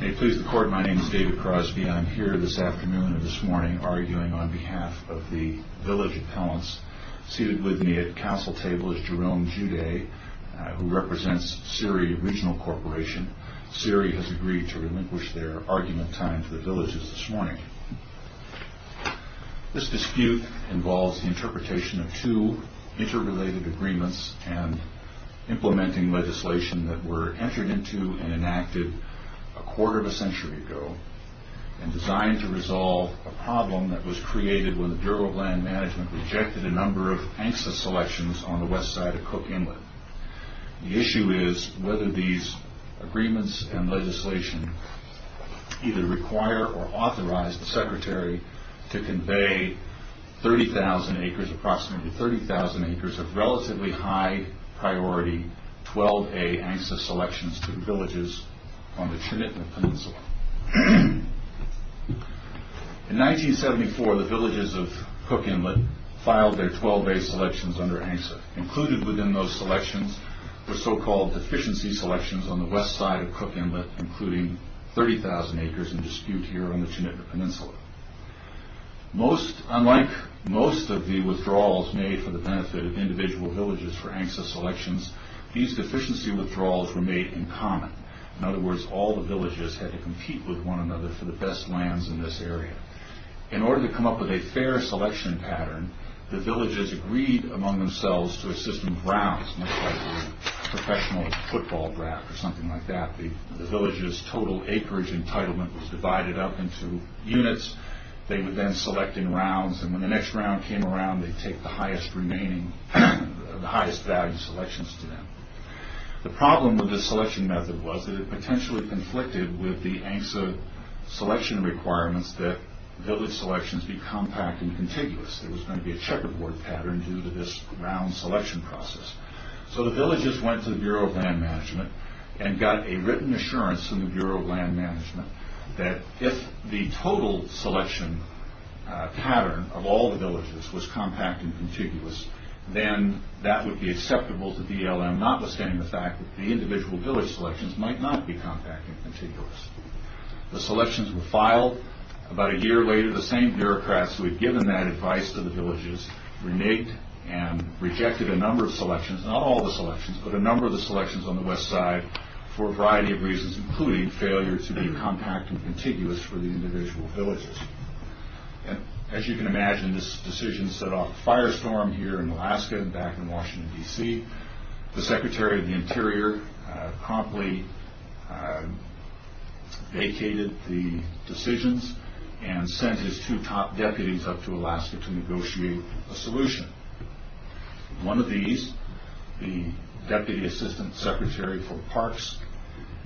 May it please the court, my name is David Crosby. I am here this afternoon and this morning arguing on behalf of the village appellants. Seated with me at the council table is Jerome Juday, who represents Ciri Regional Corporation. Ciri has agreed to relinquish their argument time to the villages this morning. This dispute involves the interpretation of two interrelated agreements and implementing legislation that were entered into and enacted a quarter of a century ago and designed to resolve a problem that was created when the Bureau of Land Management rejected a number of ANCSA selections on the west side of Cook Inlet. The issue is whether these agreements and legislation either require or authorize the secretary to convey 30,000 acres, approximately 30,000 acres of relatively high priority 12A ANCSA selections to the villages on the Trinitna Peninsula. In 1974, the villages of Cook Inlet filed their 12A selections under ANCSA. Included within those selections were so-called deficiency selections on the west side of Cook Inlet, including 30,000 acres in dispute here on the Trinitna Peninsula. Unlike most of the withdrawals made for the benefit of individual villages for ANCSA selections, these deficiency withdrawals were made in common. In other words, all the villages had to compete with one another for the best lands in this area. In order to come up with a fair selection pattern, the villages agreed among themselves to a system of rounds, much like a professional football draft or something like that. The villages' total acreage entitlement was divided up into units. They would then select in rounds, and when the next round came around, they'd take the highest value selections to them. The problem with this selection method was that it potentially conflicted with the ANCSA selection requirements that village selections be compact and contiguous. There was going to be a checkerboard pattern due to this round selection process. So the villages went to the Bureau of Land Management and got a written assurance from the Bureau of Land Management that if the total selection pattern of all the villages was compact and contiguous, then that would be acceptable to BLM, notwithstanding the fact that the individual village selections might not be compact and contiguous. The selections were filed. About a year later, the same bureaucrats who had given that advice to the villages reneged and rejected a number of selections, not all the selections, but a number of the selections on the west side for a variety of reasons, including failure to be compact and contiguous for the individual villages. As you can imagine, this decision set off a firestorm here in Alaska and back in Washington, D.C. The Secretary of the Interior promptly vacated the decisions and sent his two top deputies up to Alaska to negotiate a solution. One of these, the Deputy Assistant Secretary for Parks,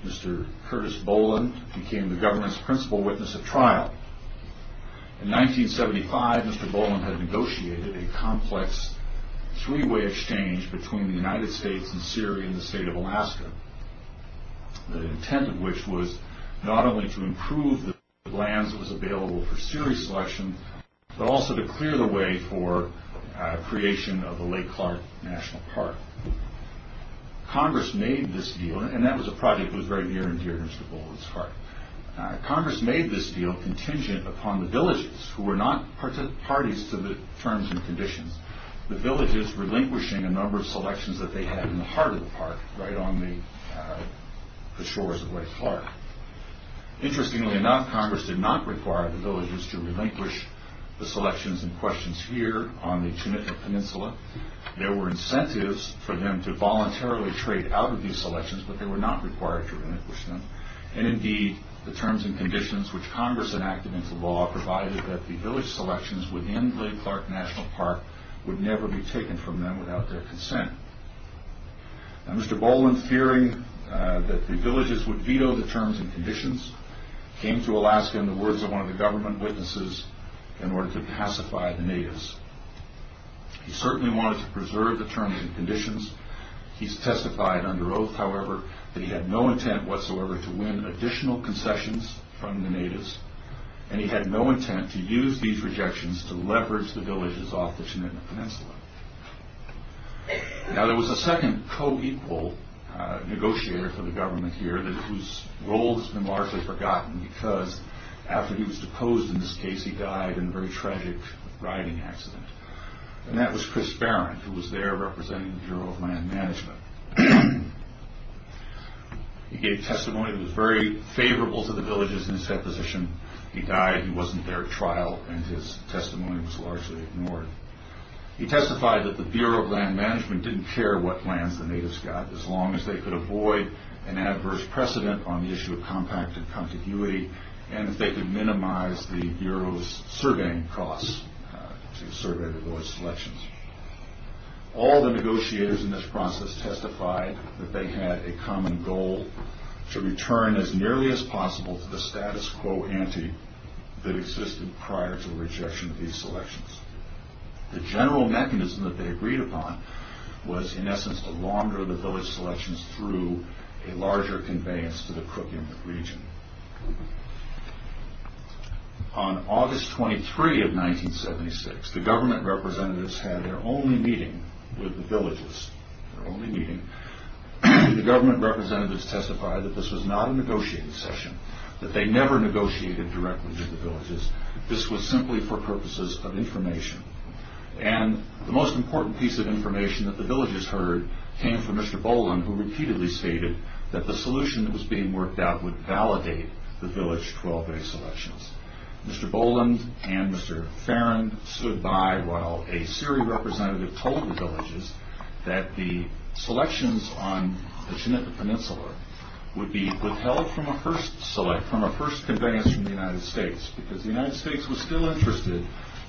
Mr. Curtis Boland, became the government's principal witness of trial. In 1975, Mr. Boland had negotiated a complex three-way exchange between the United States and Syria and the state of Alaska, the intent of which was not only to improve the lands that was available for serious selection, but also to clear the way for creation of the Lake Clark National Park. Congress made this deal, and that was a project that was very near and dear to Mr. Boland's heart. Congress made this deal contingent upon the villages, who were not parties to the terms and conditions, the villages relinquishing a number of selections that they had in the heart of the park, right on the shores of Lake Clark. Interestingly enough, Congress did not require the villages to relinquish the selections and questions here on the Tunica Peninsula. There were incentives for them to voluntarily trade out of these selections, but they were not required to relinquish them. Indeed, the terms and conditions which Congress enacted into law provided that the village selections within Lake Clark National Park would never be taken from them without their consent. Mr. Boland, fearing that the villages would veto the terms and conditions, came to Alaska in the words of one of the government witnesses in order to pacify the natives. He certainly wanted to preserve the terms and conditions. He testified under oath, however, that he had no intent whatsoever to win additional concessions from the natives, and he had no intent to use these rejections to leverage the villages off the Tunica Peninsula. Now, there was a second co-equal negotiator for the government here whose role has been largely forgotten because after he was deposed in this case, he died in a very tragic riding accident. That was Chris Barron, who was there representing the Bureau of Land Management. He gave testimony that was very favorable to the villages in his deposition. He died, he wasn't there at trial, and his testimony was largely ignored. He testified that the Bureau of Land Management didn't care what lands the natives got, as long as they could avoid an adverse precedent on the issue of compacted contiguity, and that they could minimize the Bureau's surveying costs to survey the village selections. All the negotiators in this process testified that they had a common goal to return as nearly as possible to the status quo ante that existed prior to the rejection of these selections. The general mechanism that they agreed upon was in essence to launder the village selections through a larger conveyance to the crook in the region. On August 23 of 1976, the government representatives had their only meeting with the villages. The government representatives testified that this was not a negotiated session, that they never negotiated directly with the villages. This was simply for purposes of information. The most important piece of information that the villages heard came from Mr. Boland, who repeatedly stated that the solution that was being worked out would validate the village 12-day selections. Mr. Boland and Mr. Farrin stood by while a CERI representative told the villages that the selections on the Chinook Peninsula would be withheld from a first conveyance from the United States because the United States was still interested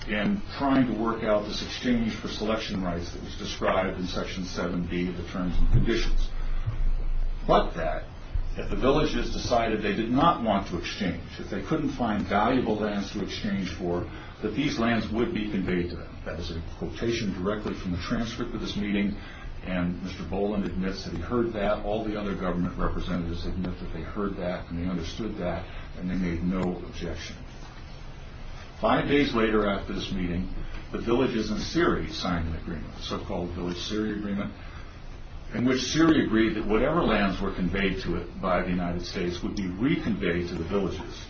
in trying to work out this exchange for selection rights that was described in Section 7B of the Terms and Conditions. But that, that the villages decided they did not want to exchange, that they couldn't find valuable lands to exchange for, that these lands would be conveyed to them. That was a quotation directly from the transcript of this meeting, and Mr. Boland admits that he heard that, all the other government representatives admit that they heard that and they understood that and they made no objection. Five days later after this meeting, the villages in CERI signed an agreement, so-called Village CERI Agreement, in which CERI agreed that whatever lands were conveyed to it by the United States would be reconveyed to the villages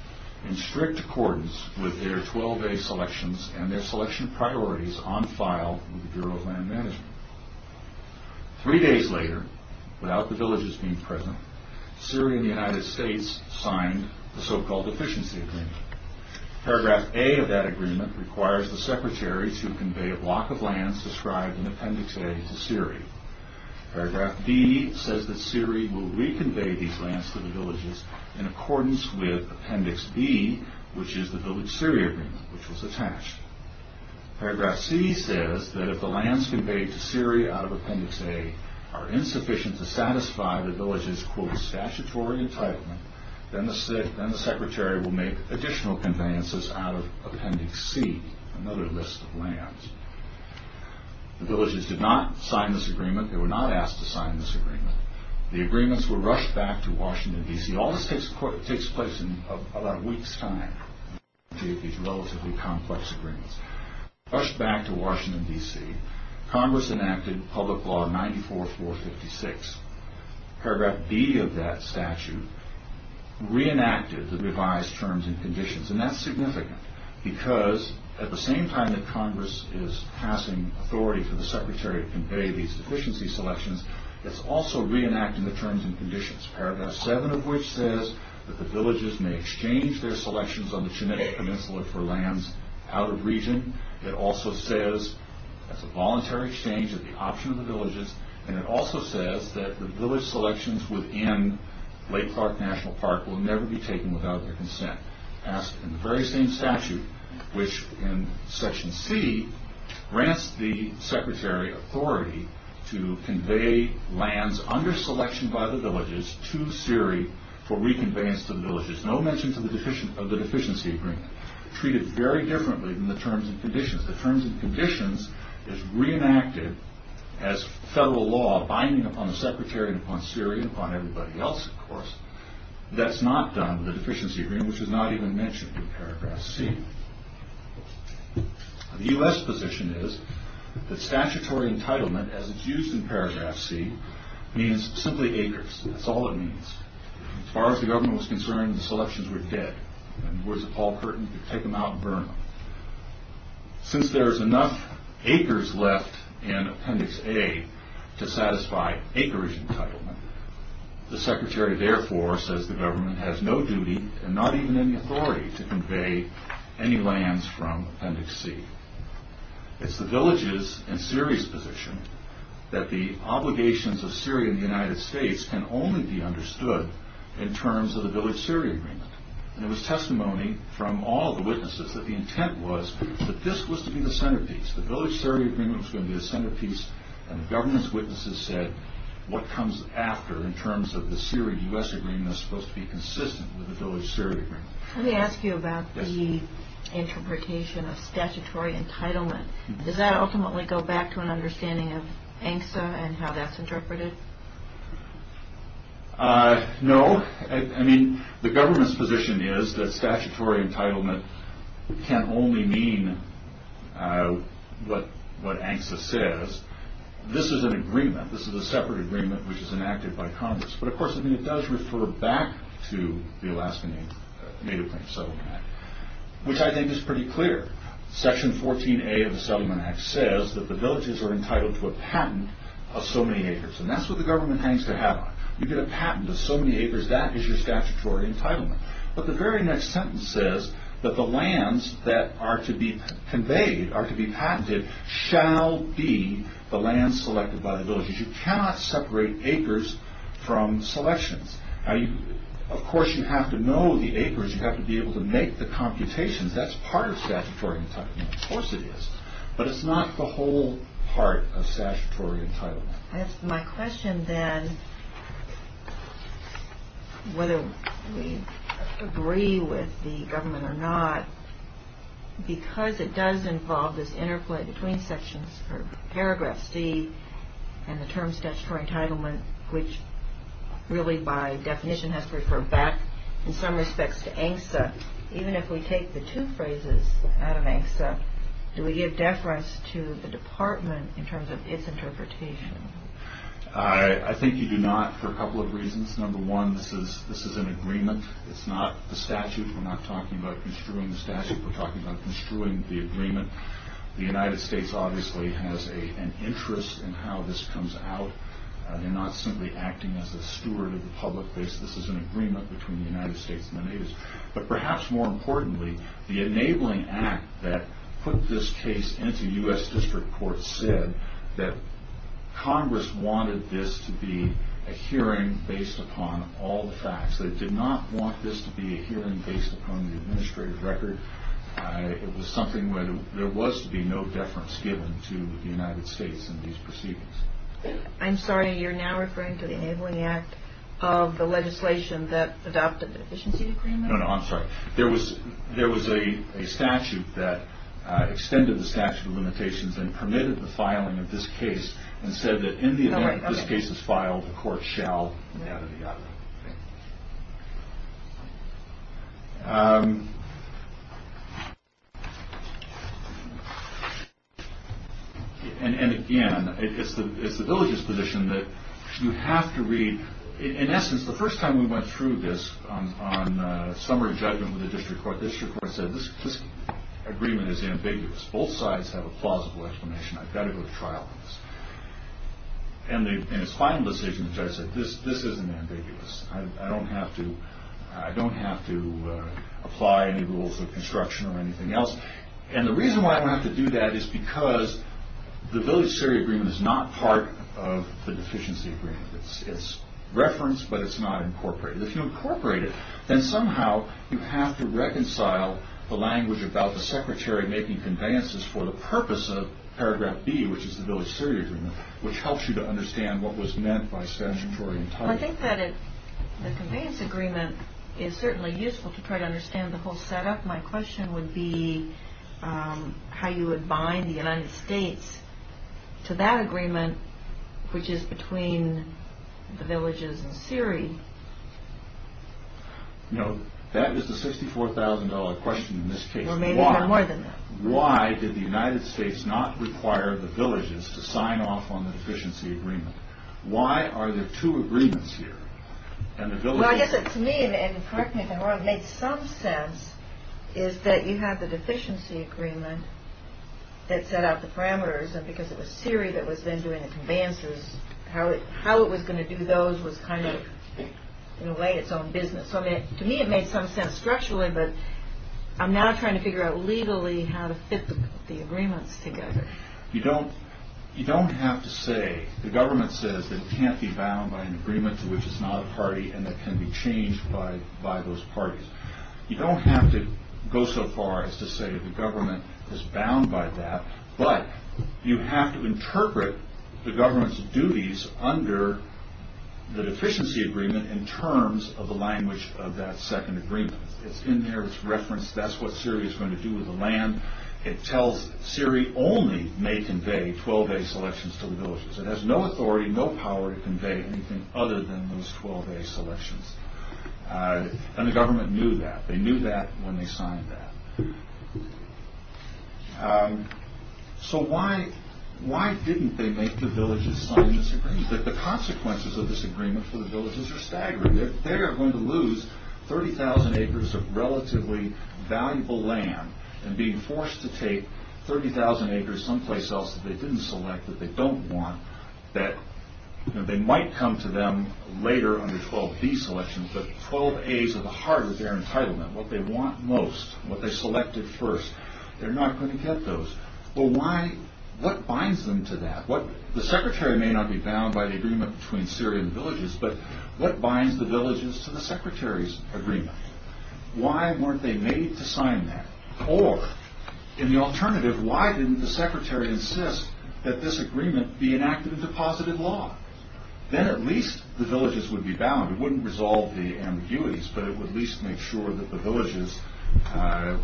in strict accordance with their 12-day selections and their selection priorities on file with the Bureau of Land Management. Three days later, without the villages being present, CERI and the United States signed the so-called Efficiency Agreement. Paragraph A of that agreement requires the Secretary to convey a block of lands described in Appendix A to CERI. Paragraph B says that CERI will reconvey these lands to the villages in accordance with Appendix B, which is the Village CERI Agreement, which was attached. Paragraph C says that if the lands conveyed to CERI out of Appendix A are insufficient to satisfy the villages' statutory entitlement, then the Secretary will make additional conveyances out of Appendix C, another list of lands. The villages did not sign this agreement. They were not asked to sign this agreement. The agreements were rushed back to Washington, D.C. All this takes place in about a week's time. These relatively complex agreements were rushed back to Washington, D.C. Congress enacted Public Law 94456. Paragraph B of that statute reenacted the revised Terms and Conditions, and that's significant, because at the same time that Congress is passing authority for the Secretary to convey these deficiency selections, it's also reenacting the Terms and Conditions. Paragraph 7 of which says that the villages may exchange their selections on the Chenette Peninsula for lands out of region. It also says it's a voluntary exchange of the option of the villages, and it also says that the village selections within Lake Clark National Park will never be taken without their consent. Asked in the very same statute, which in Section C grants the Secretary authority to convey lands under selection by the villages to CERI for reconveyance to the villages. No mention of the deficiency agreement. Treated very differently than the Terms and Conditions. The Terms and Conditions is reenacted as federal law binding upon the Secretary and upon CERI and upon everybody else, of course. That's not done with the deficiency agreement, which is not even mentioned in Paragraph C. The U.S. position is that statutory entitlement, as it's used in Paragraph C, means simply acres. That's all it means. As far as the government was concerned, the selections were dead. Words of Paul Curtin, you can take them out and burn them. Since there's enough acres left in Appendix A to satisfy acreage entitlement, the Secretary therefore says the government has no duty and not even any authority to convey any lands from Appendix C. It's the villages and CERI's position that the obligations of CERI in the United States can only be understood in terms of the village CERI agreement. There was testimony from all the witnesses that the intent was that this was to be the centerpiece. The village CERI agreement was going to be the centerpiece, and the government's witnesses said what comes after in terms of the CERI U.S. agreement is supposed to be consistent with the village CERI agreement. Let me ask you about the interpretation of statutory entitlement. Does that ultimately go back to an understanding of ANCSA and how that's interpreted? No. The government's position is that statutory entitlement can only mean what ANCSA says. This is an agreement. This is a separate agreement which is enacted by Congress, but of course it does refer back to the Alaska Native Plains Settlement Act, which I think is pretty clear. Section 14A of the Settlement Act says that the villages are entitled to a patent of so many acres, and that's what the government hangs their hat on. You get a patent of so many acres, that is your statutory entitlement. But the very next sentence says that the lands that are to be conveyed, are to be patented, shall be the lands selected by the villages. You cannot separate acres from selections. Of course you have to know the acres. You have to be able to make the computations. That's part of statutory entitlement. Of course it is. But it's not the whole part of statutory entitlement. My question then, whether we agree with the government or not, because it does involve this interplay between Sections Paragraph C and the term statutory entitlement, which really by definition has to refer back in some respects to ANCSA, even if we take the two phrases out of ANCSA, do we give deference to the Department in terms of its interpretation? I think you do not for a couple of reasons. Number one, this is an agreement. It's not the statute. We're not talking about construing the statute. We're talking about construing the agreement. The United States obviously has an interest in how this comes out. They're not simply acting as a steward of the public base. This is an agreement between the United States and the natives. But perhaps more importantly, the Enabling Act that put this case into U.S. District Court said that Congress wanted this to be a hearing based upon all the facts. They did not want this to be a hearing based upon the administrative record. It was something where there was to be no deference given to the United States in these proceedings. I'm sorry, you're now referring to the Enabling Act of the legislation that adopted the Deficiency Agreement? No, no, I'm sorry. There was a statute that extended the statute of limitations and permitted the filing of this case and said that in the event that this case is filed, the court shall move out of the argument. And again, it's the diligence position that you have to read. In essence, the first time we went through this on summary judgment with the District Court, the District Court said this agreement is ambiguous. Both sides have a plausible explanation. I've got to go to trial on this. And its final decision, the judge said this isn't ambiguous. I don't have to apply any rules of construction or anything else. And the reason why I don't have to do that is because the Village Surrey Agreement is not part of the Deficiency Agreement. It's referenced, but it's not incorporated. If you incorporate it, then somehow you have to reconcile the language about the Secretary making conveyances for the purpose of Paragraph B, which is the Village Surrey Agreement, which helps you to understand what was meant by statutory entitlement. I think that the conveyance agreement is certainly useful to try to understand the whole setup. My question would be how you would bind the United States to that agreement, which is between the Villages and Surrey. No, that is the $64,000 question in this case. Why did the United States not require the Villages to sign off on the Deficiency Agreement? Why are there two agreements here? To me, it made some sense that you have the Deficiency Agreement that set out the parameters, and because it was Surrey that was then doing the conveyances, how it was going to do those was kind of in a way its own business. To me it made some sense structurally, but I'm now trying to figure out legally how to fit the agreements together. You don't have to say, the government says that it can't be bound by an agreement to which it's not a party and that can be changed by those parties. You don't have to go so far as to say the government is bound by that, but you have to interpret the government's duties under the Deficiency Agreement in terms of the language of that second agreement. It's in there, it's referenced, that's what Surrey is going to do with the land. It tells Surrey only may convey 12A selections to the Villages. It has no authority, no power to convey anything other than those 12A selections. And the government knew that. They knew that when they signed that. So why didn't they make the Villages sign this agreement? The consequences of this agreement for the Villages are staggering. They're going to lose 30,000 acres of relatively valuable land and being forced to take 30,000 acres someplace else that they didn't select, that they don't want, that they might come to them later under 12B selections, but 12A's are the heart of their entitlement, what they want most, what they selected first. They're not going to get those. What binds them to that? The Secretary may not be bound by the agreement between Surrey and the Villages, but what binds the Villages to the Secretary's agreement? Why weren't they made to sign that? Or, in the alternative, why didn't the Secretary insist that this agreement be enacted into positive law? Then at least the Villages would be bound. It wouldn't resolve the ambiguities, but it would at least make sure that the Villages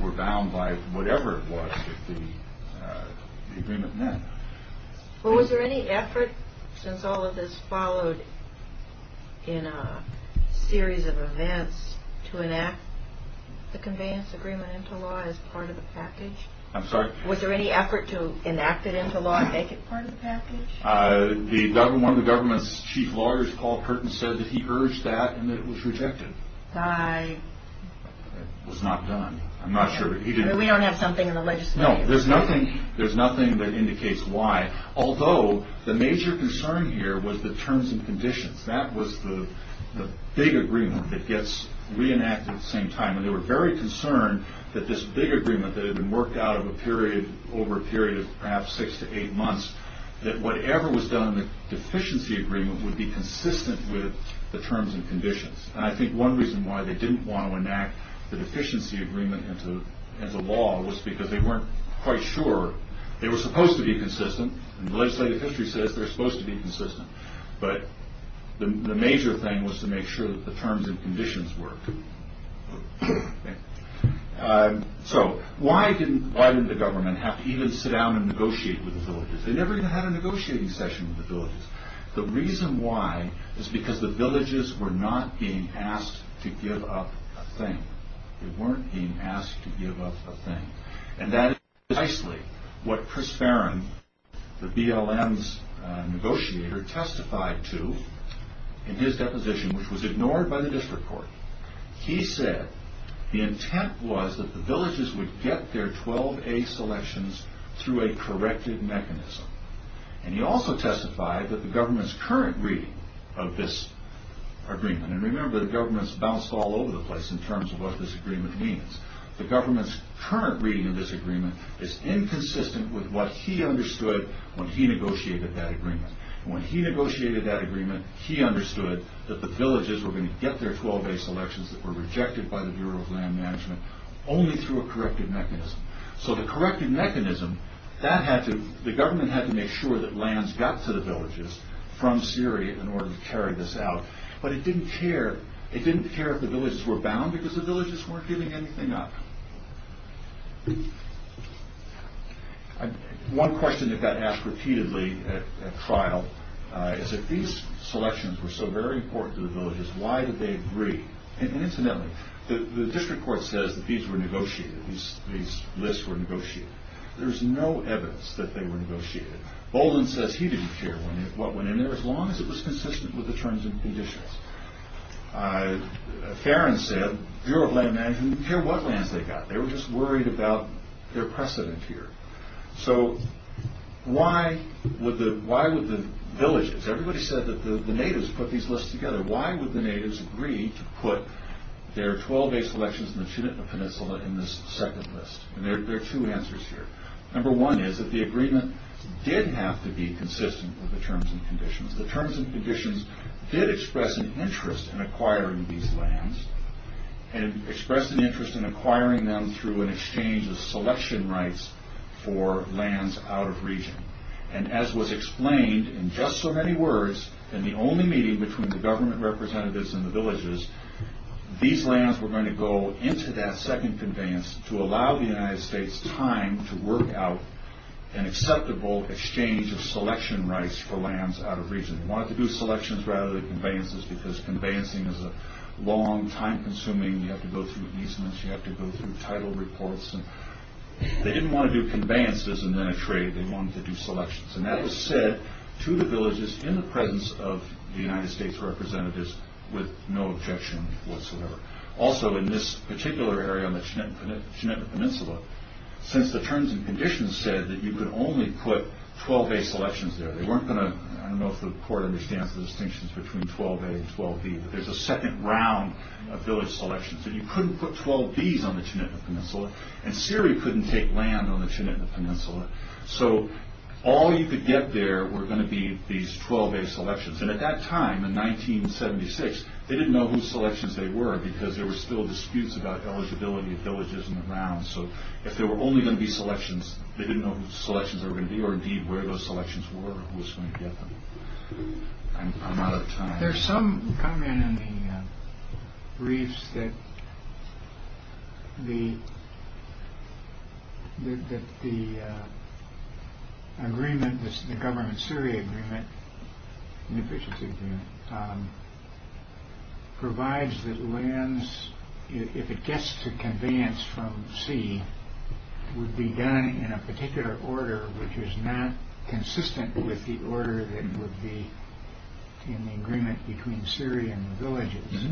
were bound by whatever it was that the agreement meant. Was there any effort, since all of this followed in a series of events, to enact the conveyance agreement into law as part of the package? I'm sorry? Was there any effort to enact it into law and make it part of the package? One of the government's chief lawyers, Paul Curtin, said that he urged that and that it was rejected. It was not done. I'm not sure. We don't have something in the legislature. No, there's nothing that indicates why. Although, the major concern here was the terms and conditions. That was the big agreement that gets reenacted at the same time, and they were very concerned that this big agreement that had been worked out over a period of perhaps six to eight months, that whatever was done in the deficiency agreement would be consistent with the terms and conditions. And I think one reason why they didn't want to enact the deficiency agreement into law was because they weren't quite sure they were supposed to be consistent, and the legislative history says they're supposed to be consistent, but the major thing was to make sure that the terms and conditions worked. So, why didn't the government have to even sit down and negotiate with the villages? They never even had a negotiating session with the villages. The reason why is because the villages were not being asked to give up a thing. They weren't being asked to give up a thing. And that is precisely what Chris Barron, the BLM's negotiator, testified to in his deposition, which was ignored by the district court. He said the intent was that the villages would get their 12A selections through a corrected mechanism. And he also testified that the government's current reading of this agreement, and remember the government's bounced all over the place in terms of what this agreement means, the government's current reading of this agreement is inconsistent with what he understood when he negotiated that agreement. When he negotiated that agreement, he understood that the villages were going to get their 12A selections that were rejected by the Bureau of Land Management only through a corrected mechanism. So the corrected mechanism, the government had to make sure that lands got to the villages from Syria in order to carry this out, but it didn't care if the villages were bound because the villages weren't giving anything up. One question that got asked repeatedly at trial is if these selections were so very important to the villages, why did they agree? Incidentally, the district court says that these lists were negotiated. There's no evidence that they were negotiated. Bolden says he didn't care what went in there as long as it was consistent with the terms and conditions. Farron said the Bureau of Land Management didn't care what lands they got. They were just worried about their precedent here. So why would the villages, everybody said that the natives put these lists together. Why would the natives agree to put their 12A selections in the Chinitla Peninsula in this second list? And there are two answers here. Number one is that the agreement did have to be consistent with the terms and conditions. It did express an interest in acquiring these lands and expressed an interest in acquiring them through an exchange of selection rights for lands out of region. And as was explained in just so many words in the only meeting between the government representatives and the villages, these lands were going to go into that second conveyance to allow the United States time to work out an acceptable exchange of selection rights for lands out of region. They wanted to do selections rather than conveyances because conveyancing is a long, time-consuming, you have to go through easements, you have to go through title reports. They didn't want to do conveyances and then a trade. They wanted to do selections. And that was said to the villages in the presence of the United States representatives with no objection whatsoever. Also, in this particular area on the Chinitla Peninsula, since the terms and conditions said that you could only put 12A selections there, they weren't going to, I don't know if the court understands the distinctions between 12A and 12B, but there's a second round of village selections that you couldn't put 12Bs on the Chinitla Peninsula and Syria couldn't take land on the Chinitla Peninsula. So all you could get there were going to be these 12A selections. And at that time, in 1976, they didn't know whose selections they were because there were still disputes about eligibility of villages in the round. So if there were only going to be selections, they didn't know whose selections there were going to be or indeed where those selections were, who was going to get them. I'm out of time. There's some comment in the briefs that the agreement, the government-Syria agreement, provides that lands, if it gets to conveyance from sea, would be done in a particular order which is not consistent with the order that would be in the agreement between Syria and the villages.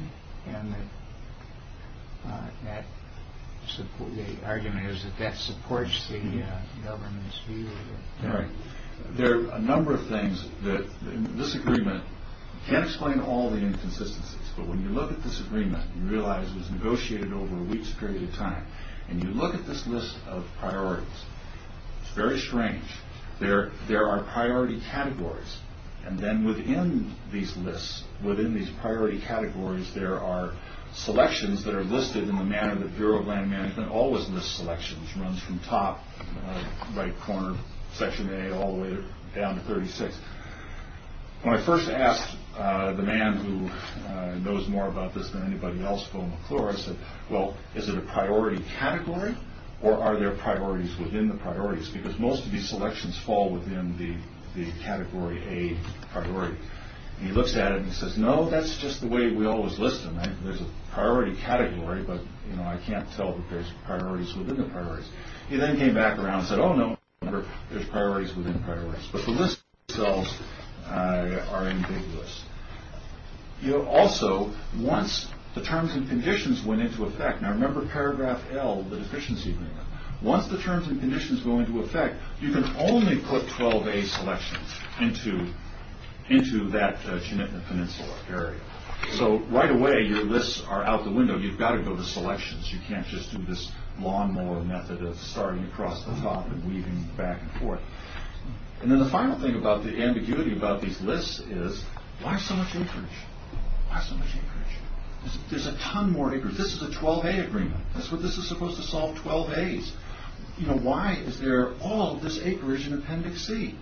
And the argument is that that supports the government's view. There are a number of things that this agreement can't explain all the inconsistencies, but when you look at this agreement and realize it was negotiated over a week's period of time and you look at this list of priorities, it's very strange. There are priority categories and then within these lists, within these priority categories, there are selections that are listed in the manner that the Bureau of Land Management always lists selections. It runs from top, right corner, section A, all the way down to 36. When I first asked the man who knows more about this than anybody else, Phil McClure, I said, well, is it a priority category or are there priorities within the priorities? Because most of these selections fall within the category A priority. And he looks at it and he says, no, that's just the way we always list them. There's a priority category, but I can't tell if there's priorities within the priorities. He then came back around and said, oh, no, there's priorities within priorities. But the lists themselves are ambiguous. Also, once the terms and conditions went into effect, now remember paragraph L, the deficiency agreement. Once the terms and conditions go into effect, you can only put 12 A selections into that peninsula area. So right away, your lists are out the window. You've got to go to selections. You can't just do this lawnmower method of starting across the top and weaving back and forth. And then the final thing about the ambiguity about these lists is why so much acreage? Why so much acreage? There's a ton more acreage. This is a 12 A agreement. This is supposed to solve 12 As. Why is there all this acreage in Appendix C?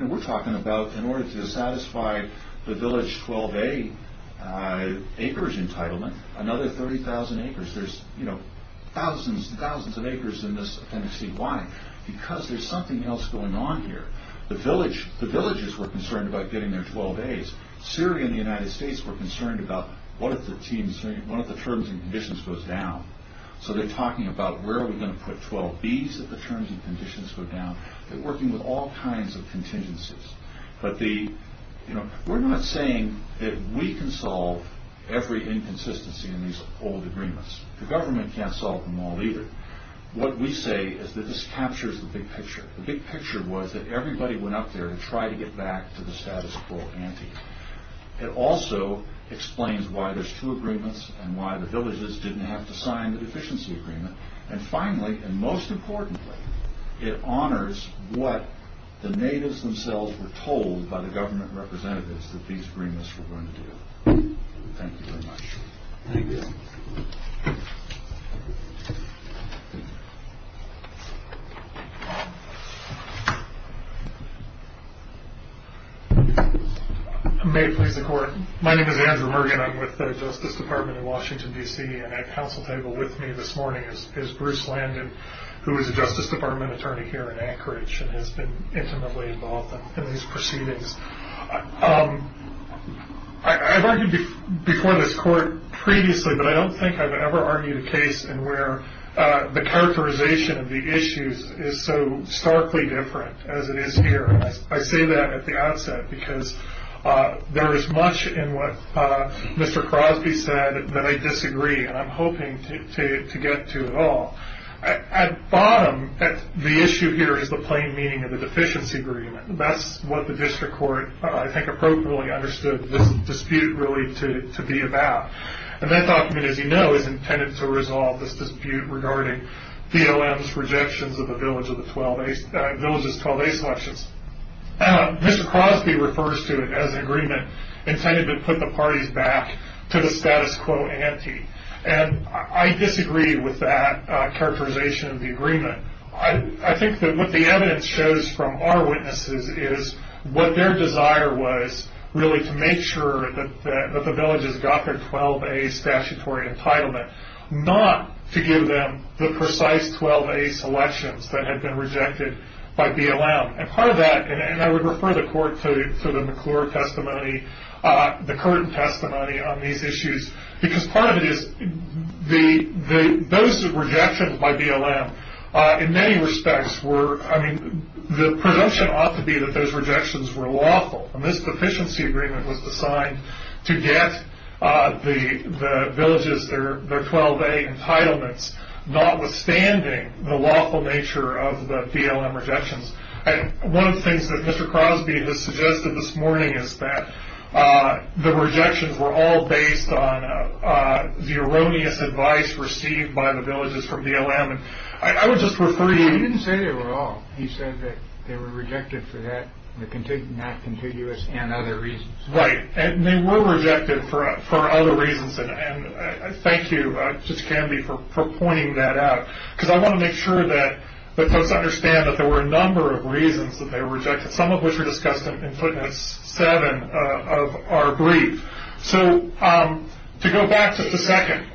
We're talking about in order to satisfy the village 12 A acreage entitlement, another 30,000 acres. There's thousands and thousands of acres in this Appendix C. Why? Because there's something else going on here. The villages were concerned about getting their 12 As. Syria and the United States were concerned about what if the terms and conditions goes down. So they're talking about where are we going to put 12 Bs if the terms and conditions go down. They're working with all kinds of contingencies. We're not saying that we can solve every inconsistency in these old agreements. The government can't solve them all either. What we say is that this captures the big picture. The big picture was that everybody went out there and tried to get back to the status quo ante. It also explains why there's two agreements and why the villages didn't have to sign the deficiency agreement. Finally, and most importantly, it honors what the natives themselves were told by the government representatives that these agreements were going to do. Thank you very much. Thank you. May it please the court. My name is Andrew Mergen. I'm with the Justice Department in Washington, D.C. and at the council table with me this morning is Bruce Landon, who is a Justice Department attorney here in Anchorage and has been intimately involved in these proceedings. I've argued before this court previously, but I don't think I've ever argued a case in where the characterization of the issues is so starkly different as it is here. I say that at the outset because there is much in what Mr. Crosby said that I disagree, and I'm hoping to get to it all. At bottom, the issue here is the plain meaning of the deficiency agreement. That's what the district court, I think, appropriately understood this dispute really to be about. And that document, as you know, is intended to resolve this dispute regarding DLM's rejections of the village's 12A selections. Mr. Crosby refers to it as an agreement intended to put the parties back to the status quo ante, and I disagree with that characterization of the agreement. I think that what the evidence shows from our witnesses is what their desire was really to make sure that the villages got their 12A statutory entitlement, not to give them the precise 12A selections that had been rejected by DLM. And part of that, and I would refer the court to the McClure testimony, the Curtin testimony on these issues, because part of it is those rejections by DLM in many respects were, I mean, the presumption ought to be that those rejections were lawful. And this deficiency agreement was designed to get the villages their 12A entitlements, notwithstanding the lawful nature of the DLM rejections. And one of the things that Mr. Crosby has suggested this morning is that the rejections were all based on the erroneous advice received by the villages from DLM. He didn't say they were all. He said that they were rejected for that, not contiguous, and other reasons. Right, and they were rejected for other reasons. And thank you, Judge Canby, for pointing that out, because I want to make sure that folks understand that there were a number of reasons that they were rejected, some of which were discussed in Footnotes 7 of our brief. So to go back just a second,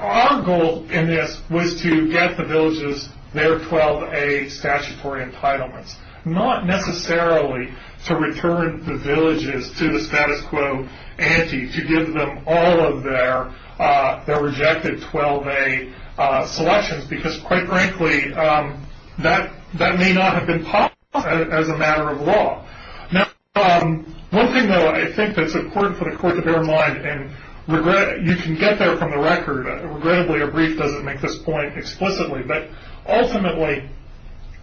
our goal in this was to get the villages their 12A statutory entitlements, not necessarily to return the villages to the status quo ante, to give them all of their rejected 12A selections, because, quite frankly, that may not have been possible as a matter of law. Now, one thing, though, I think that's important for the Court to bear in mind, and you can get there from the record. Regrettably, our brief doesn't make this point explicitly, but ultimately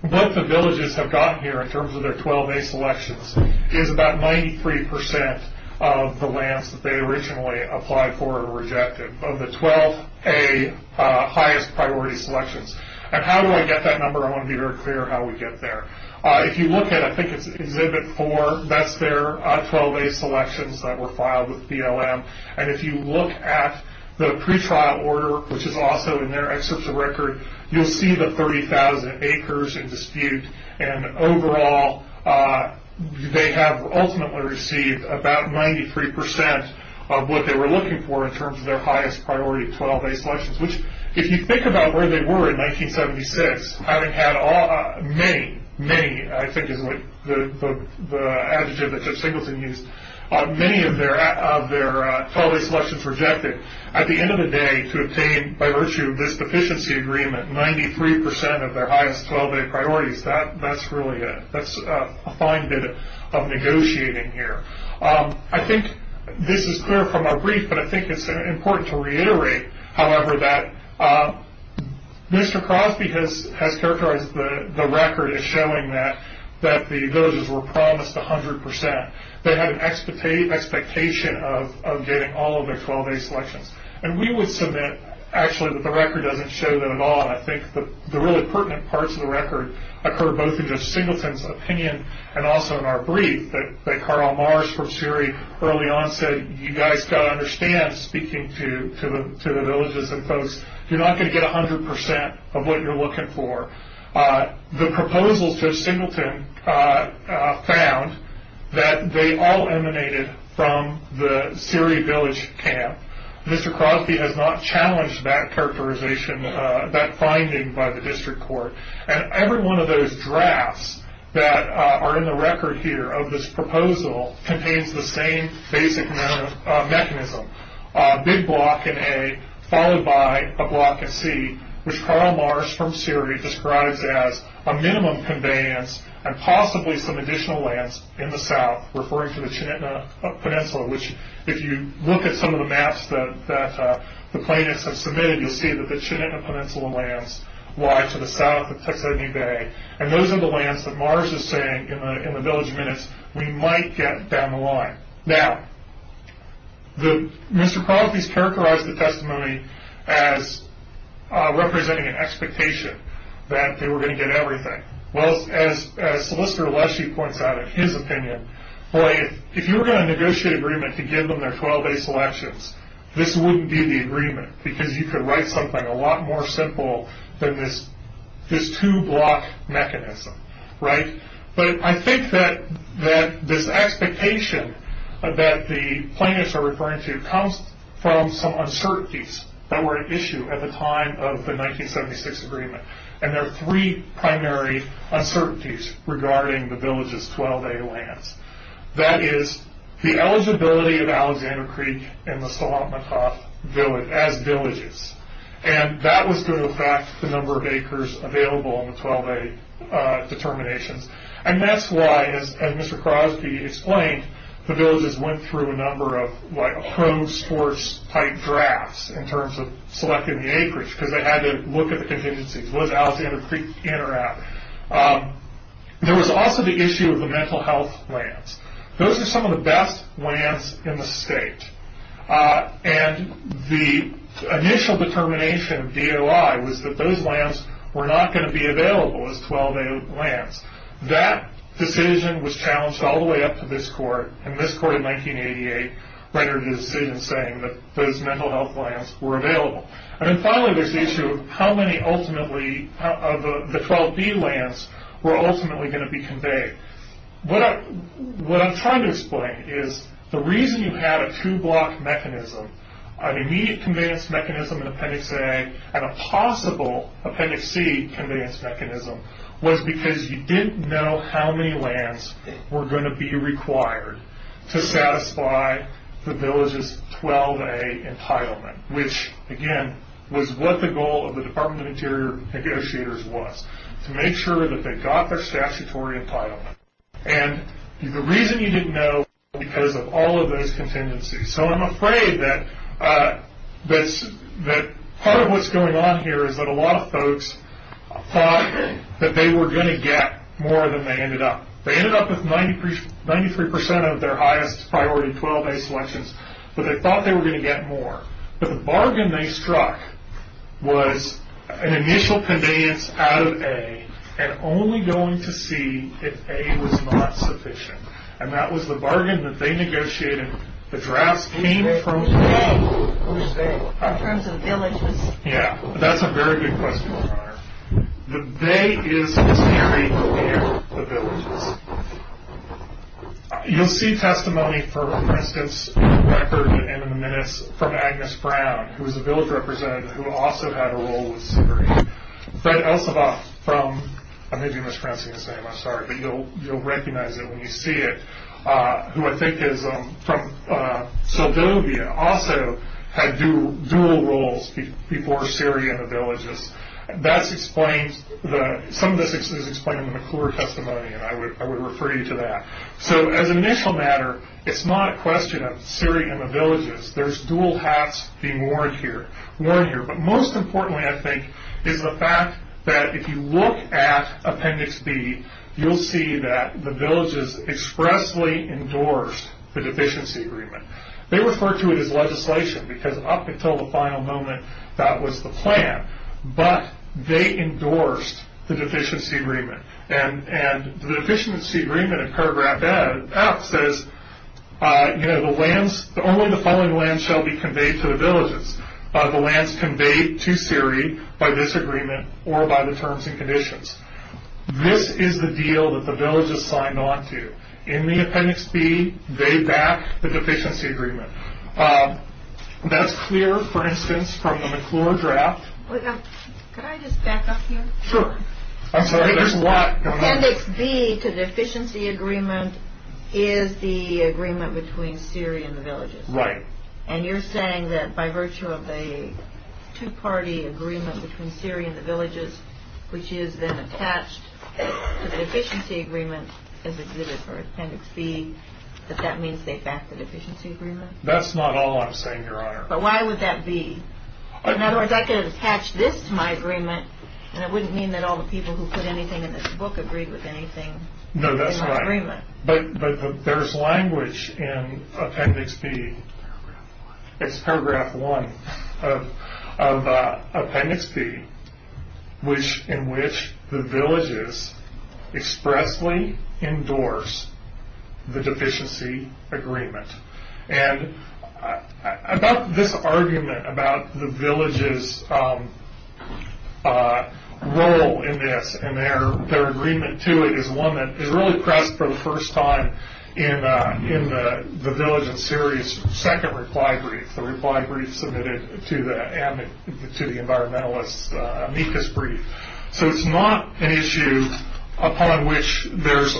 what the villages have gotten here in terms of their 12A selections is about 93% of the lands that they originally applied for or rejected, of the 12A highest priority selections. And how do I get that number? I want to be very clear how we get there. If you look at, I think it's Exhibit 4, that's their 12A selections that were filed with BLM. And if you look at the pretrial order, which is also in their excerpts of record, you'll see the 30,000 acres in dispute. And overall, they have ultimately received about 93% of what they were looking for in terms of their highest priority 12A selections, which if you think about where they were in 1976, having had many, many, I think is the adjective that Judge Singleton used, many of their 12A selections rejected, at the end of the day to obtain, by virtue of this deficiency agreement, 93% of their highest 12A priorities, that's really a fine bit of negotiating here. I think this is clear from our brief, but I think it's important to reiterate, however, that Mr. Crosby has characterized the record as showing that the villagers were promised 100%. They had an expectation of getting all of their 12A selections. And we would submit, actually, that the record doesn't show that at all, and I think the really pertinent parts of the record occur both in Judge Singleton's opinion and also in our brief, that Carl Marsh from Siri early on said, you guys got to understand, speaking to the villagers and folks, you're not going to get 100% of what you're looking for. The proposal Judge Singleton found that they all emanated from the Siri village camp. Mr. Crosby has not challenged that characterization, that finding by the district court. And every one of those drafts that are in the record here of this proposal contains the same basic mechanism, a big block in A followed by a block in C, which Carl Marsh from Siri describes as a minimum conveyance and possibly some additional lands in the south, referring to the Chinitna Peninsula, which if you look at some of the maps that the plaintiffs have submitted, you'll see that the Chinitna Peninsula lands lie to the south of Texodney Bay, and those are the lands that Marsh is saying in the village minutes we might get down the line. Now, Mr. Crosby's characterized the testimony as representing an expectation that they were going to get everything. Well, as Solicitor Leshee points out in his opinion, boy, if you were going to negotiate agreement to give them their 12-day selections, this wouldn't be the agreement because you could write something a lot more simple than this two-block mechanism, right? But I think that this expectation that the plaintiffs are referring to comes from some uncertainties that were at issue at the time of the 1976 agreement, and there are three primary uncertainties regarding the village's 12-day lands. That is, the eligibility of Alexander Creek and the Salatmatoff village as villages, and that was due to the fact the number of acres available in the 12-day determinations, and that's why, as Mr. Crosby explained, the villages went through a number of home sports-type drafts in terms of selecting the acreage because they had to look at the contingencies. Was Alexander Creek in or out? There was also the issue of the mental health lands. Those are some of the best lands in the state, and the initial determination of DOI was that those lands were not going to be available as 12-day lands. That decision was challenged all the way up to this court, and this court in 1988 rendered a decision saying that those mental health lands were available. And then finally there's the issue of how many ultimately of the 12-day lands were ultimately going to be conveyed. What I'm trying to explain is the reason you had a two-block mechanism, an immediate conveyance mechanism in Appendix A and a possible Appendix C conveyance mechanism, was because you didn't know how many lands were going to be required to satisfy the village's 12-day entitlement, which, again, was what the goal of the Department of Interior negotiators was, to make sure that they got their statutory entitlement. And the reason you didn't know was because of all of those contingencies. So I'm afraid that part of what's going on here is that a lot of folks thought that they were going to get more than they ended up. They ended up with 93 percent of their highest priority 12-day selections, but they thought they were going to get more. But the bargain they struck was an initial conveyance out of A and only going to C if A was not sufficient. And that was the bargain that they negotiated. The drafts came from- Who's they? Who's they? In terms of villages? Yeah, that's a very good question, O'Connor. The they is the theory here, the villages. You'll see testimony, for instance, in the record and in the minutes from Agnes Brown, who was a village representative who also had a role with Syria. Fred Elsovoff from- I may be mispronouncing his name, I'm sorry. But you'll recognize it when you see it, who I think is from Seldovia, Some of this is explained in the McClure testimony, and I would refer you to that. So as an initial matter, it's not a question of Syria and the villages. There's dual hats being worn here. But most importantly, I think, is the fact that if you look at Appendix B, you'll see that the villages expressly endorsed the deficiency agreement. They refer to it as legislation because up until the final moment, that was the plan. But they endorsed the deficiency agreement. And the deficiency agreement in paragraph F says, you know, the lands- only the following lands shall be conveyed to the villages. The lands conveyed to Syria by this agreement or by the terms and conditions. This is the deal that the villages signed on to. In the Appendix B, they back the deficiency agreement. That's clear, for instance, from the McClure draft. Can I just back up here? Sure. I'm sorry, there's a lot going on. Appendix B to the deficiency agreement is the agreement between Syria and the villages. Right. And you're saying that by virtue of a two-party agreement between Syria and the villages, which is then attached to the deficiency agreement, is exhibited for Appendix B, that that means they back the deficiency agreement? That's not all I'm saying, Your Honor. But why would that be? In other words, I could attach this to my agreement, and it wouldn't mean that all the people who put anything in this book agreed with anything in my agreement. No, that's right. But there's language in Appendix B. It's paragraph one. of Appendix B, in which the villages expressly endorse the deficiency agreement. And this argument about the villages' role in this and their agreement to it is one that is really pressed for the first time in the village and Syria's second reply brief, the reply brief submitted to the environmentalist's amicus brief. So it's not an issue upon which there's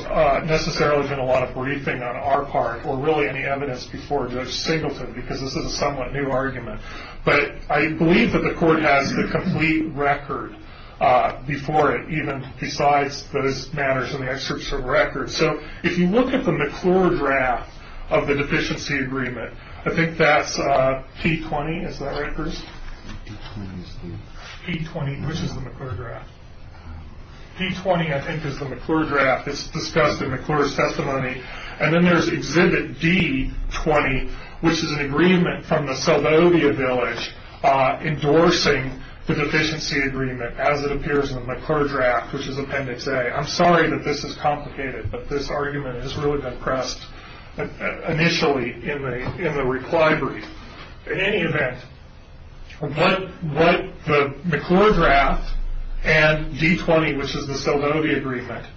necessarily been a lot of briefing on our part or really any evidence before Judge Singleton, because this is a somewhat new argument. But I believe that the Court has the complete record before it, even besides those matters in the excerpts from the record. So if you look at the McClure draft of the deficiency agreement, I think that's P-20, is that right, Bruce? P-20 is the... P-20, which is the McClure draft. P-20, I think, is the McClure draft. It's discussed in McClure's testimony. And then there's Exhibit D-20, which is an agreement from the Seldovia village endorsing the deficiency agreement as it appears in the McClure draft, which is Appendix A. I'm sorry that this is complicated, but this argument has really been pressed initially in the reply brief. In any event, what the McClure draft and D-20, which is the Seldovia agreement,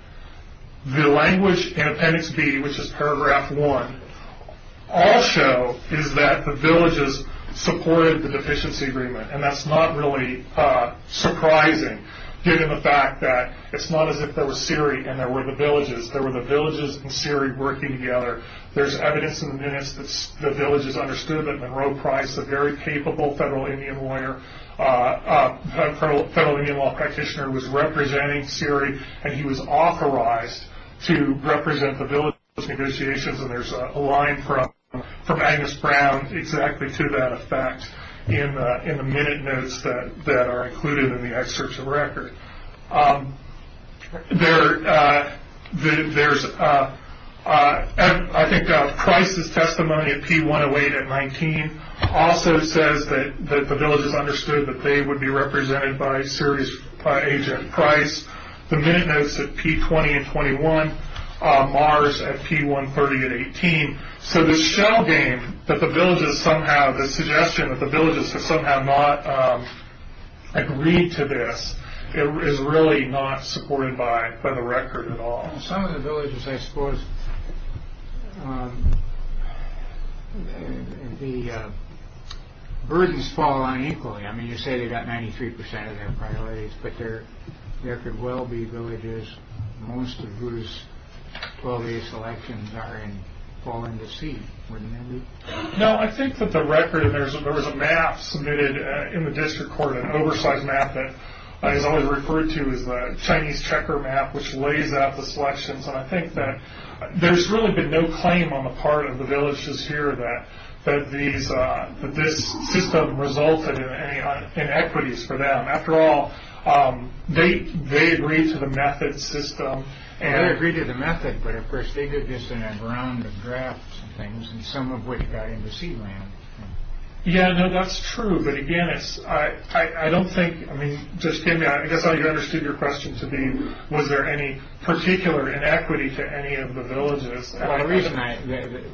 the language in Appendix B, which is Paragraph 1, all show is that the villages supported the deficiency agreement. And that's not really surprising given the fact that it's not as if there was Siri and there were the villages. There were the villages and Siri working together. There's evidence in the minutes that the villages understood that Monroe Price, a very capable federal Indian lawyer, federal Indian law practitioner, was representing Siri, and he was authorized to represent the villages in those negotiations. And there's a line from Agnes Brown exactly to that effect in the minute notes that are included in the excerpts of record. There's, I think, Price's testimony at P-108 and 19 also says that the villages understood that they would be represented by Siri's agent, Price. The minute notes at P-20 and 21, Mars at P-130 and 18. So the shell game that the villages somehow, the suggestion that the villages have somehow not agreed to this, is really not supported by the record at all. Some of the villages, I suppose, the burdens fall on equally. I mean, you say they've got 93% of their priorities, but there could well be villages, most of whose 12-day selections are in fall into seed, wouldn't it be? No, I think that the record, there was a map submitted in the district court, an oversized map that is always referred to as the Chinese checker map, which lays out the selections, and I think that there's really been no claim on the part of the villages here that this system resulted in any inequities for them. After all, they agreed to the method system. They agreed to the method, but of course, they did this in a round of drafts and things, and some of which got into seed land. Yeah, no, that's true, but again, I don't think, I mean, just give me, I guess I understood your question to be, was there any particular inequity to any of the villages?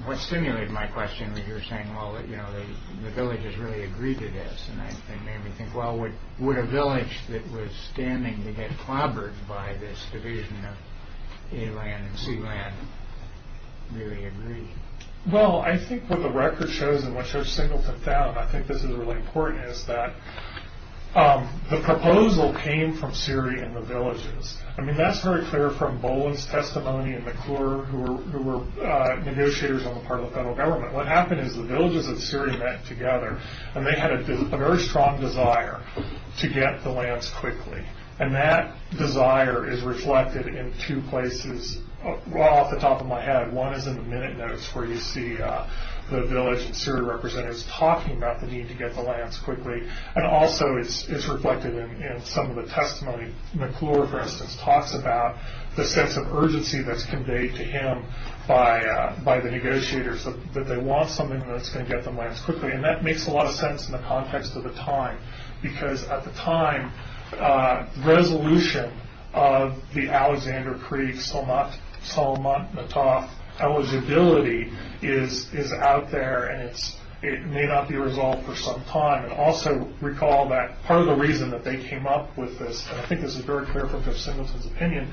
What stimulated my question was you were saying, well, the villages really agreed to this, and that made me think, well, would a village that was standing to get clobbered by this division of A land and C land really agree? Well, I think what the record shows, and what Judge Singleton found, I think this is really important, is that the proposal came from Siri and the villages. I mean, that's very clear from Boland's testimony and McClure, who were negotiators on the part of the federal government. What happened is the villages of Siri met together, and they had a very strong desire to get the lands quickly, and that desire is reflected in two places off the top of my head. One is in the minute notes where you see the village and Siri representatives talking about the need to get the lands quickly, and also it's reflected in some of the testimony. McClure, for instance, talks about the sense of urgency that's conveyed to him by the negotiators, that they want something that's going to get them lands quickly, and that makes a lot of sense in the context of the time, because at the time, resolution of the Alexander Creek-Solomont-Matov eligibility is out there, and it may not be resolved for some time. Also, recall that part of the reason that they came up with this, and I think this is very clear from Judge Singleton's opinion,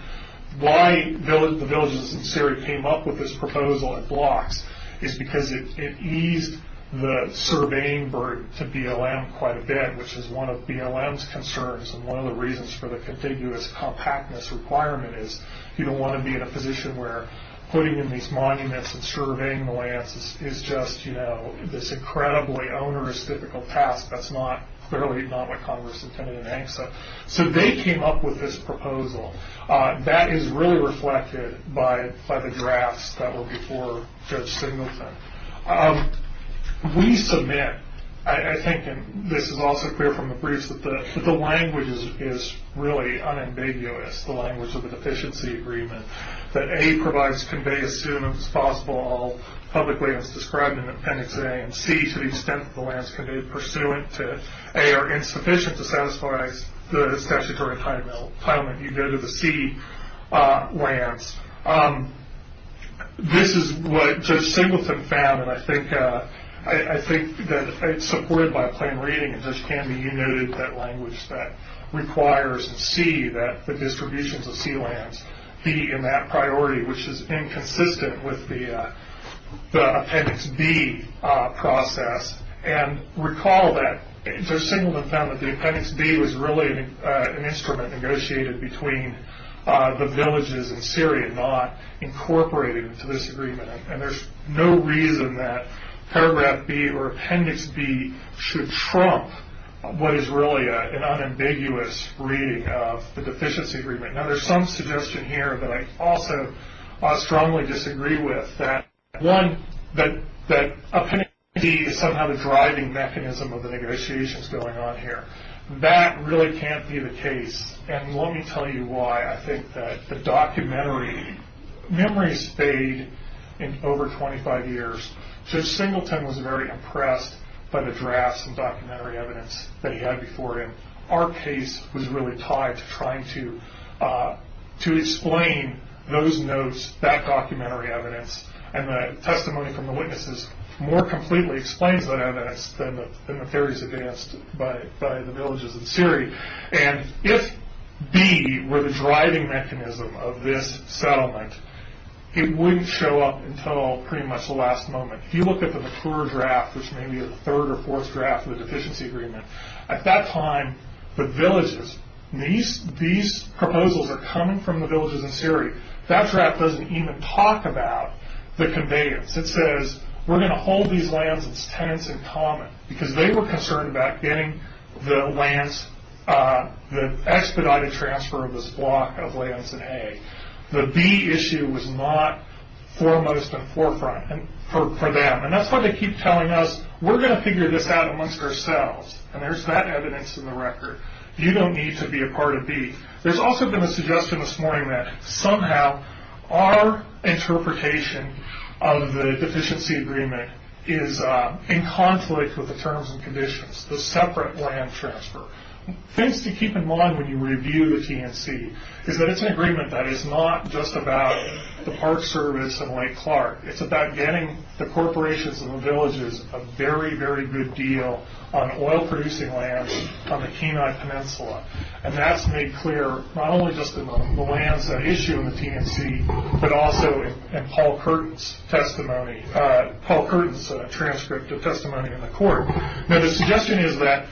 why the villages and Siri came up with this proposal in blocks is because it eased the surveying burden to BLM quite a bit, which is one of BLM's concerns, and one of the reasons for the contiguous compactness requirement is you don't want to be in a position where putting in these monuments and surveying the lands is just this incredibly onerous, difficult task. That's clearly not what Congress intended in ANCSA. So they came up with this proposal. That is really reflected by the drafts that were before Judge Singleton. We submit, I think, and this is also clear from the briefs, that the language is really unambiguous, the language of the deficiency agreement, that A provides convey as soon as possible all public lands described in Appendix A, and C, to the extent that the lands conveyed pursuant to A are insufficient to satisfy the statutory entitlement, you go to the C lands. This is what Judge Singleton found, and I think that it's supported by plain reading, and Judge Canby, you noted that language that requires C, that the distributions of C lands be in that priority, which is inconsistent with the Appendix B process, and recall that Judge Singleton found that the Appendix B was really an instrument negotiated between the villages in Syria, not incorporated into this agreement, and there's no reason that Paragraph B or Appendix B should trump what is really an unambiguous reading of the deficiency agreement. Now, there's some suggestion here that I also strongly disagree with, that one, that Appendix B is somehow the driving mechanism of the negotiations going on here. That really can't be the case, and let me tell you why. I think that the documentary memories fade in over 25 years. Judge Singleton was very impressed by the drafts and documentary evidence that he had before him. Our case was really tied to trying to explain those notes, that documentary evidence, and the testimony from the witnesses more completely explains that evidence than the theories advanced by the villages in Syria, and if B were the driving mechanism of this settlement, it wouldn't show up until pretty much the last moment. If you look at the mature draft, which may be the third or fourth draft of the deficiency agreement, at that time, the villages, these proposals are coming from the villages in Syria. That draft doesn't even talk about the conveyance. It says, we're going to hold these lands and its tenants in common, because they were concerned about getting the lands, the expedited transfer of this block of lands in A. The B issue was not foremost and forefront for them, and that's why they keep telling us, we're going to figure this out amongst ourselves, and there's that evidence in the record. You don't need to be a part of B. There's also been a suggestion this morning that somehow our interpretation of the deficiency agreement is in conflict with the terms and conditions, the separate land transfer. Things to keep in mind when you review the TNC is that it's an agreement that is not just about the Park Service and Lake Clark. It's about getting the corporations and the villages a very, very good deal on oil-producing lands on the Kenai Peninsula, and that's made clear not only just in the lands that issue in the TNC, but also in Paul Curtin's testimony, Paul Curtin's transcript of testimony in the court. Now the suggestion is that,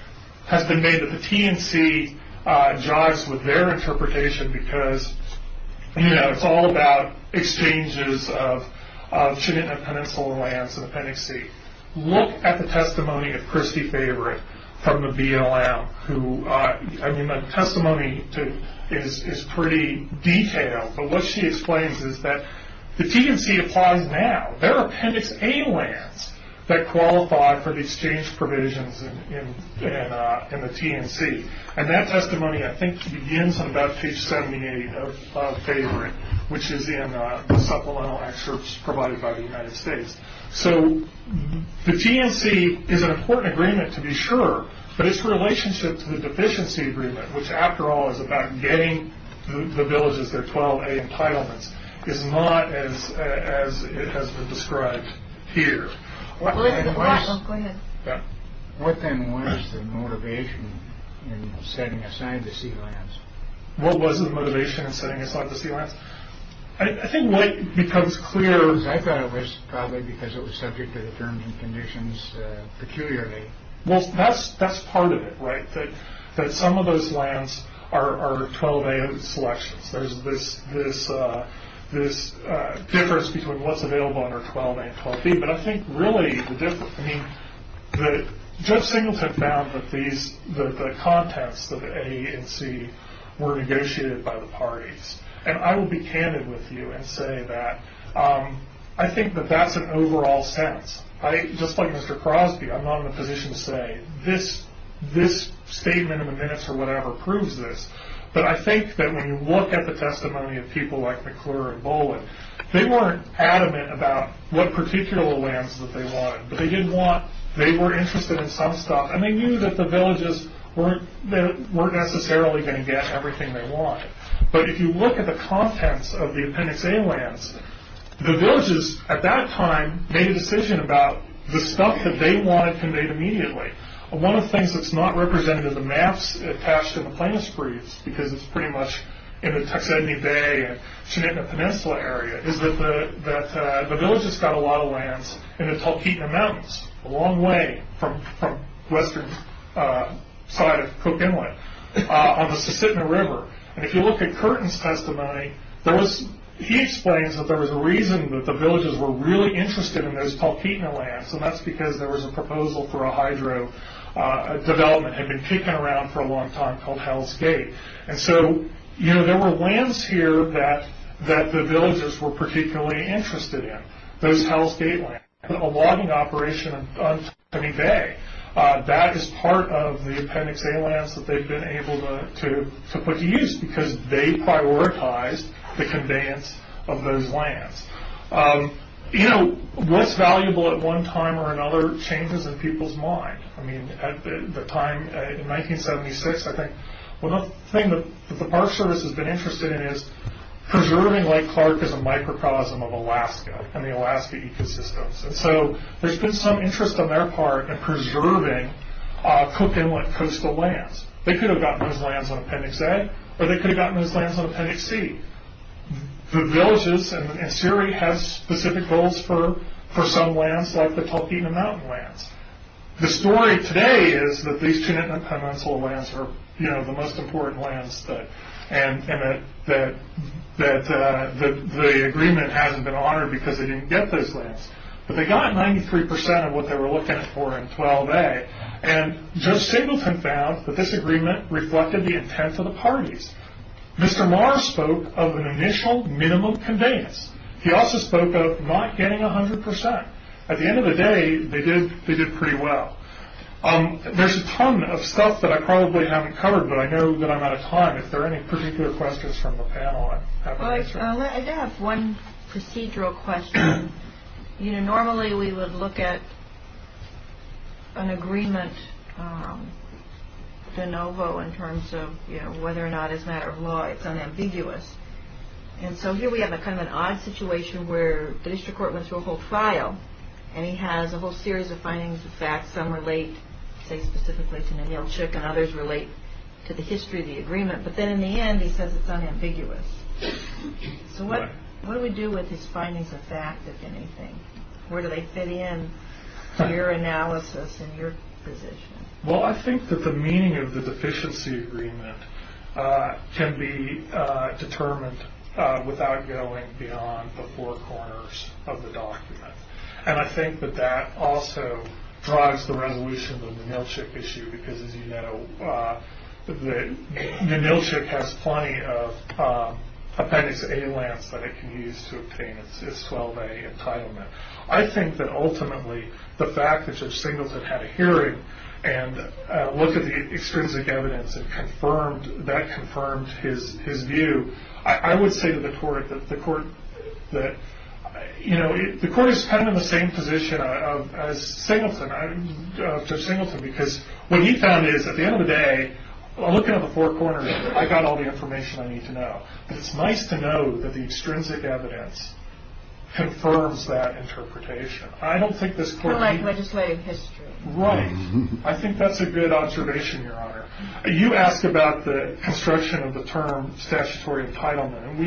has been made that the TNC jogs with their interpretation because, you know, it's all about exchanges of Kenai Peninsula lands in Appendix C. Look at the testimony of Christy Favorite from the BLM, who, I mean, the testimony is pretty detailed, but what she explains is that the TNC applies now. There are Appendix A lands that qualify for the exchange provisions in the TNC, and that testimony, I think, begins on about page 78 of Favorite, which is in the supplemental excerpts provided by the United States. So the TNC is an important agreement to be sure, but its relationship to the deficiency agreement, which after all is about getting the villages their 12A entitlements, is not as it has been described here. What then was the motivation in setting aside the C lands? What was the motivation in setting aside the C lands? I think what becomes clear is, I thought it was probably because it was subject to the terms and conditions peculiarly. Well, that's part of it, right? That some of those lands are 12A selections. There's this difference between what's available under 12A and 12B, but I think really the difference, I mean, Judge Singleton found that the contents of the A and C were negotiated by the parties, and I will be candid with you and say that I think that that's an overall sense. Just like Mr. Crosby, I'm not in a position to say this statement in the minutes or whatever proves this, but I think that when you look at the testimony of people like McClure and Boland, they weren't adamant about what particular lands that they wanted, but they didn't want, they were interested in some stuff, and they knew that the villages weren't necessarily going to get everything they wanted. But if you look at the contents of the Appendix A lands, the villages at that time made a decision about the stuff that they wanted conveyed immediately. One of the things that's not represented in the maps attached to the plaintiff's briefs, because it's pretty much in the Tuxedne Bay and Shenetna Peninsula area, is that the villages got a lot of lands in the Talkeetna Mountains, a long way from western side of Cook Inlet, on the Susitna River. And if you look at Curtin's testimony, he explains that there was a reason that the villages were really interested in those Talkeetna lands, and that's because there was a proposal for a hydro development, had been kicking around for a long time, called Hell's Gate. And so there were lands here that the villagers were particularly interested in, those Hell's Gate lands. A logging operation on Tuxedne Bay, that is part of the Appendix A lands that they've been able to put to use, because they prioritized the conveyance of those lands. You know, what's valuable at one time or another changes in people's mind. I mean, at the time, in 1976, I think, one of the things that the Park Service has been interested in is preserving Lake Clark as a microcosm of Alaska and the Alaska ecosystems. And so there's been some interest on their part in preserving Cook Inlet coastal lands. They could have gotten those lands on Appendix A, or they could have gotten those lands on Appendix C. The villages in Siri have specific goals for some lands, like the Tulkena Mountain lands. The story today is that these Tunintna Peninsula lands are, you know, the most important lands, and that the agreement hasn't been honored because they didn't get those lands. But they got 93% of what they were looking for in 12A, and Judge Singleton found that this agreement reflected the intent of the parties. Mr. Maher spoke of an initial minimum conveyance. He also spoke of not getting 100%. At the end of the day, they did pretty well. There's a ton of stuff that I probably haven't covered, but I know that I'm out of time. If there are any particular questions from the panel, I'd love to answer them. I do have one procedural question. You know, normally we would look at an agreement de novo in terms of, you know, whether or not as a matter of law it's unambiguous. And so here we have kind of an odd situation where the district court went through a whole file, and he has a whole series of findings and facts. Some relate, say, specifically to Ninielchik, and others relate to the history of the agreement. But then in the end, he says it's unambiguous. So what do we do with these findings of fact, if anything? Where do they fit in to your analysis and your position? Well, I think that the meaning of the deficiency agreement can be determined without going beyond the four corners of the document. And I think that that also drives the resolution of the Ninielchik issue, because, as you know, Ninielchik has plenty of appendix A lands that it can use to obtain its 12A entitlement. I think that ultimately, the fact that Judge Singleton had a hearing and looked at the extrinsic evidence and that confirmed his view, I would say to the court that, you know, the court is kind of in the same position as Judge Singleton, because what he found is, at the end of the day, looking at the four corners, I got all the information I need to know. It's nice to know that the extrinsic evidence confirms that interpretation. I don't think this court... I like legislative history. Right. I think that's a good observation, Your Honor. You asked about the construction of the term statutory entitlement, and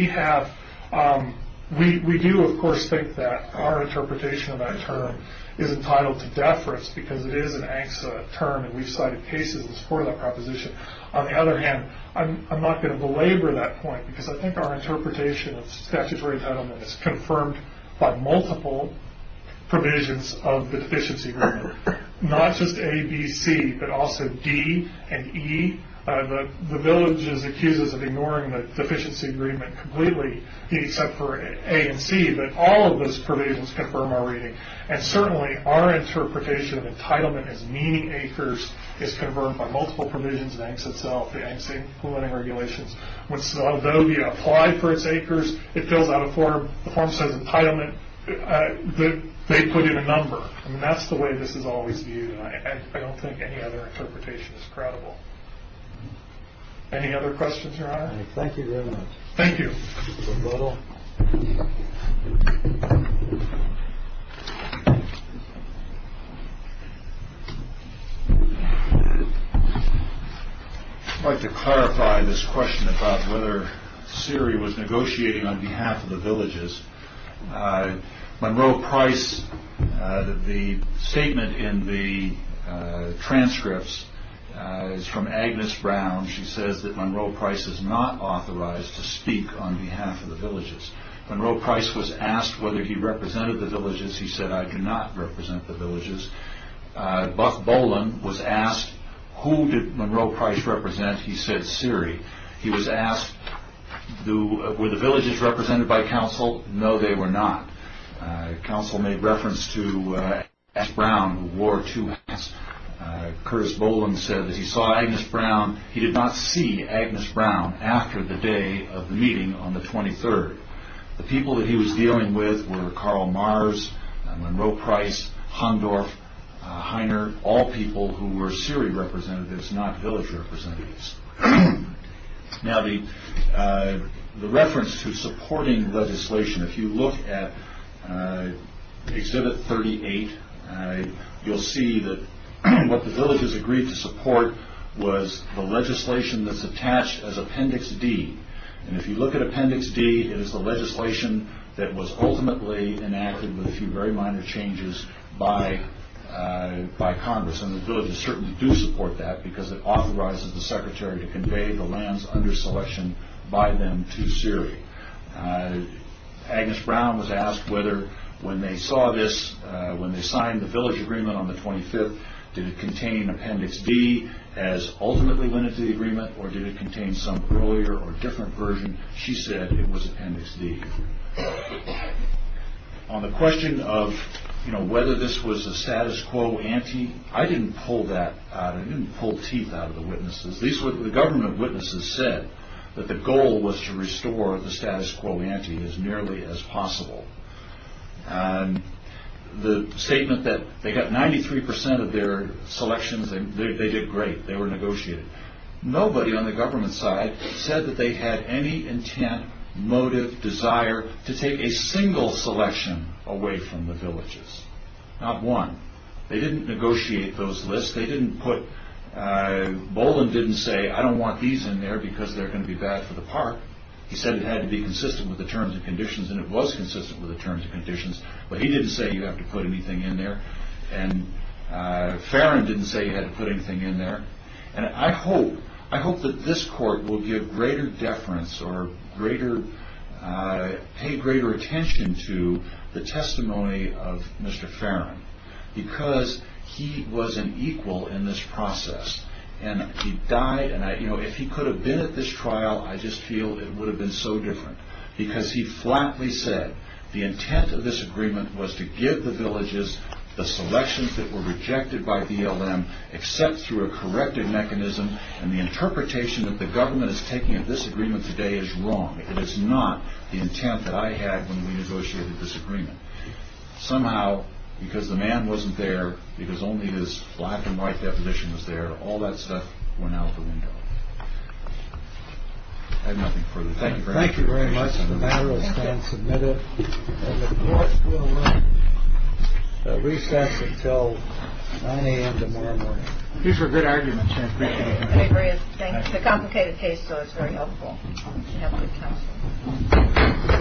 we do, of course, think that our interpretation of that term is entitled to deference, because it is an ANCSA term, and we've cited cases in support of that proposition. On the other hand, I'm not going to belabor that point, because I think our interpretation of statutory entitlement is confirmed by multiple provisions of the Deficiency Agreement, not just A, B, C, but also D and E. The village is accused of ignoring the Deficiency Agreement completely, except for A and C, but all of those provisions confirm our reading. And certainly, our interpretation of entitlement as meaning acres is confirmed by multiple provisions of ANCSA itself, the ANCSA implementing regulations, which although we apply for its acres, it fills out a form. The form says entitlement. They put in a number, and that's the way this is always viewed, and I don't think any other interpretation is credible. Any other questions, Your Honor? Thank you very much. Thank you. Mr. Butler? I'd like to clarify this question about whether Siri was negotiating on behalf of the villages. Monroe Price, the statement in the transcripts is from Agnes Brown. She says that Monroe Price is not authorized to speak on behalf of the villages. Monroe Price was asked whether he represented the villages. He said, I do not represent the villages. Buff Boland was asked, who did Monroe Price represent? He said, Siri. He was asked, were the villages represented by counsel? No, they were not. Counsel made reference to Agnes Brown, who wore two hats. Curtis Boland said that he saw Agnes Brown. He did not see Agnes Brown after the day of the meeting on the 23rd. The people that he was dealing with were Carl Mars, Monroe Price, Hondorf, Heiner, all people who were Siri representatives, not village representatives. Now, the reference to supporting legislation, if you look at Exhibit 38, you'll see that what the villages agreed to support was the legislation that's attached as Appendix D. If you look at Appendix D, it is the legislation that was ultimately enacted with a few very minor changes by Congress. The villages certainly do support that because it authorizes the Secretary to convey the lands under selection by them to Siri. Agnes Brown was asked whether, when they saw this, when they signed the village agreement on the 25th, did it contain Appendix D as ultimately went into the agreement, or did it contain some earlier or different version? She said it was Appendix D. On the question of whether this was a status quo ante, I didn't pull that out. I didn't pull teeth out of the witnesses. The government witnesses said that the goal was to restore the status quo ante as nearly as possible. The statement that they got 93% of their selections, they did great. They were negotiated. Nobody on the government side said that they had any intent, motive, desire, to take a single selection away from the villages. Not one. They didn't negotiate those lists. Boland didn't say, I don't want these in there because they're going to be bad for the park. He said it had to be consistent with the terms and conditions, and it was consistent with the terms and conditions, but he didn't say you have to put anything in there. Farron didn't say you had to put anything in there. I hope that this court will give greater deference or pay greater attention to the testimony of Mr. Farron because he was an equal in this process, and he died. If he could have been at this trial, I just feel it would have been so different because he flatly said the intent of this agreement was to give the villages the selections that were rejected by BLM except through a corrective mechanism, and the interpretation that the government is taking of this agreement today is wrong. It is not the intent that I had when we negotiated this agreement. Somehow, because the man wasn't there, because only his black and white deposition was there, all that stuff went out the window. I have nothing further. Thank you very much. Thank you very much. The matter has been submitted, and the court will recess until 9 a.m. tomorrow morning. These were good arguments. I agree. It's a complicated case, so it's very helpful to have good counsel.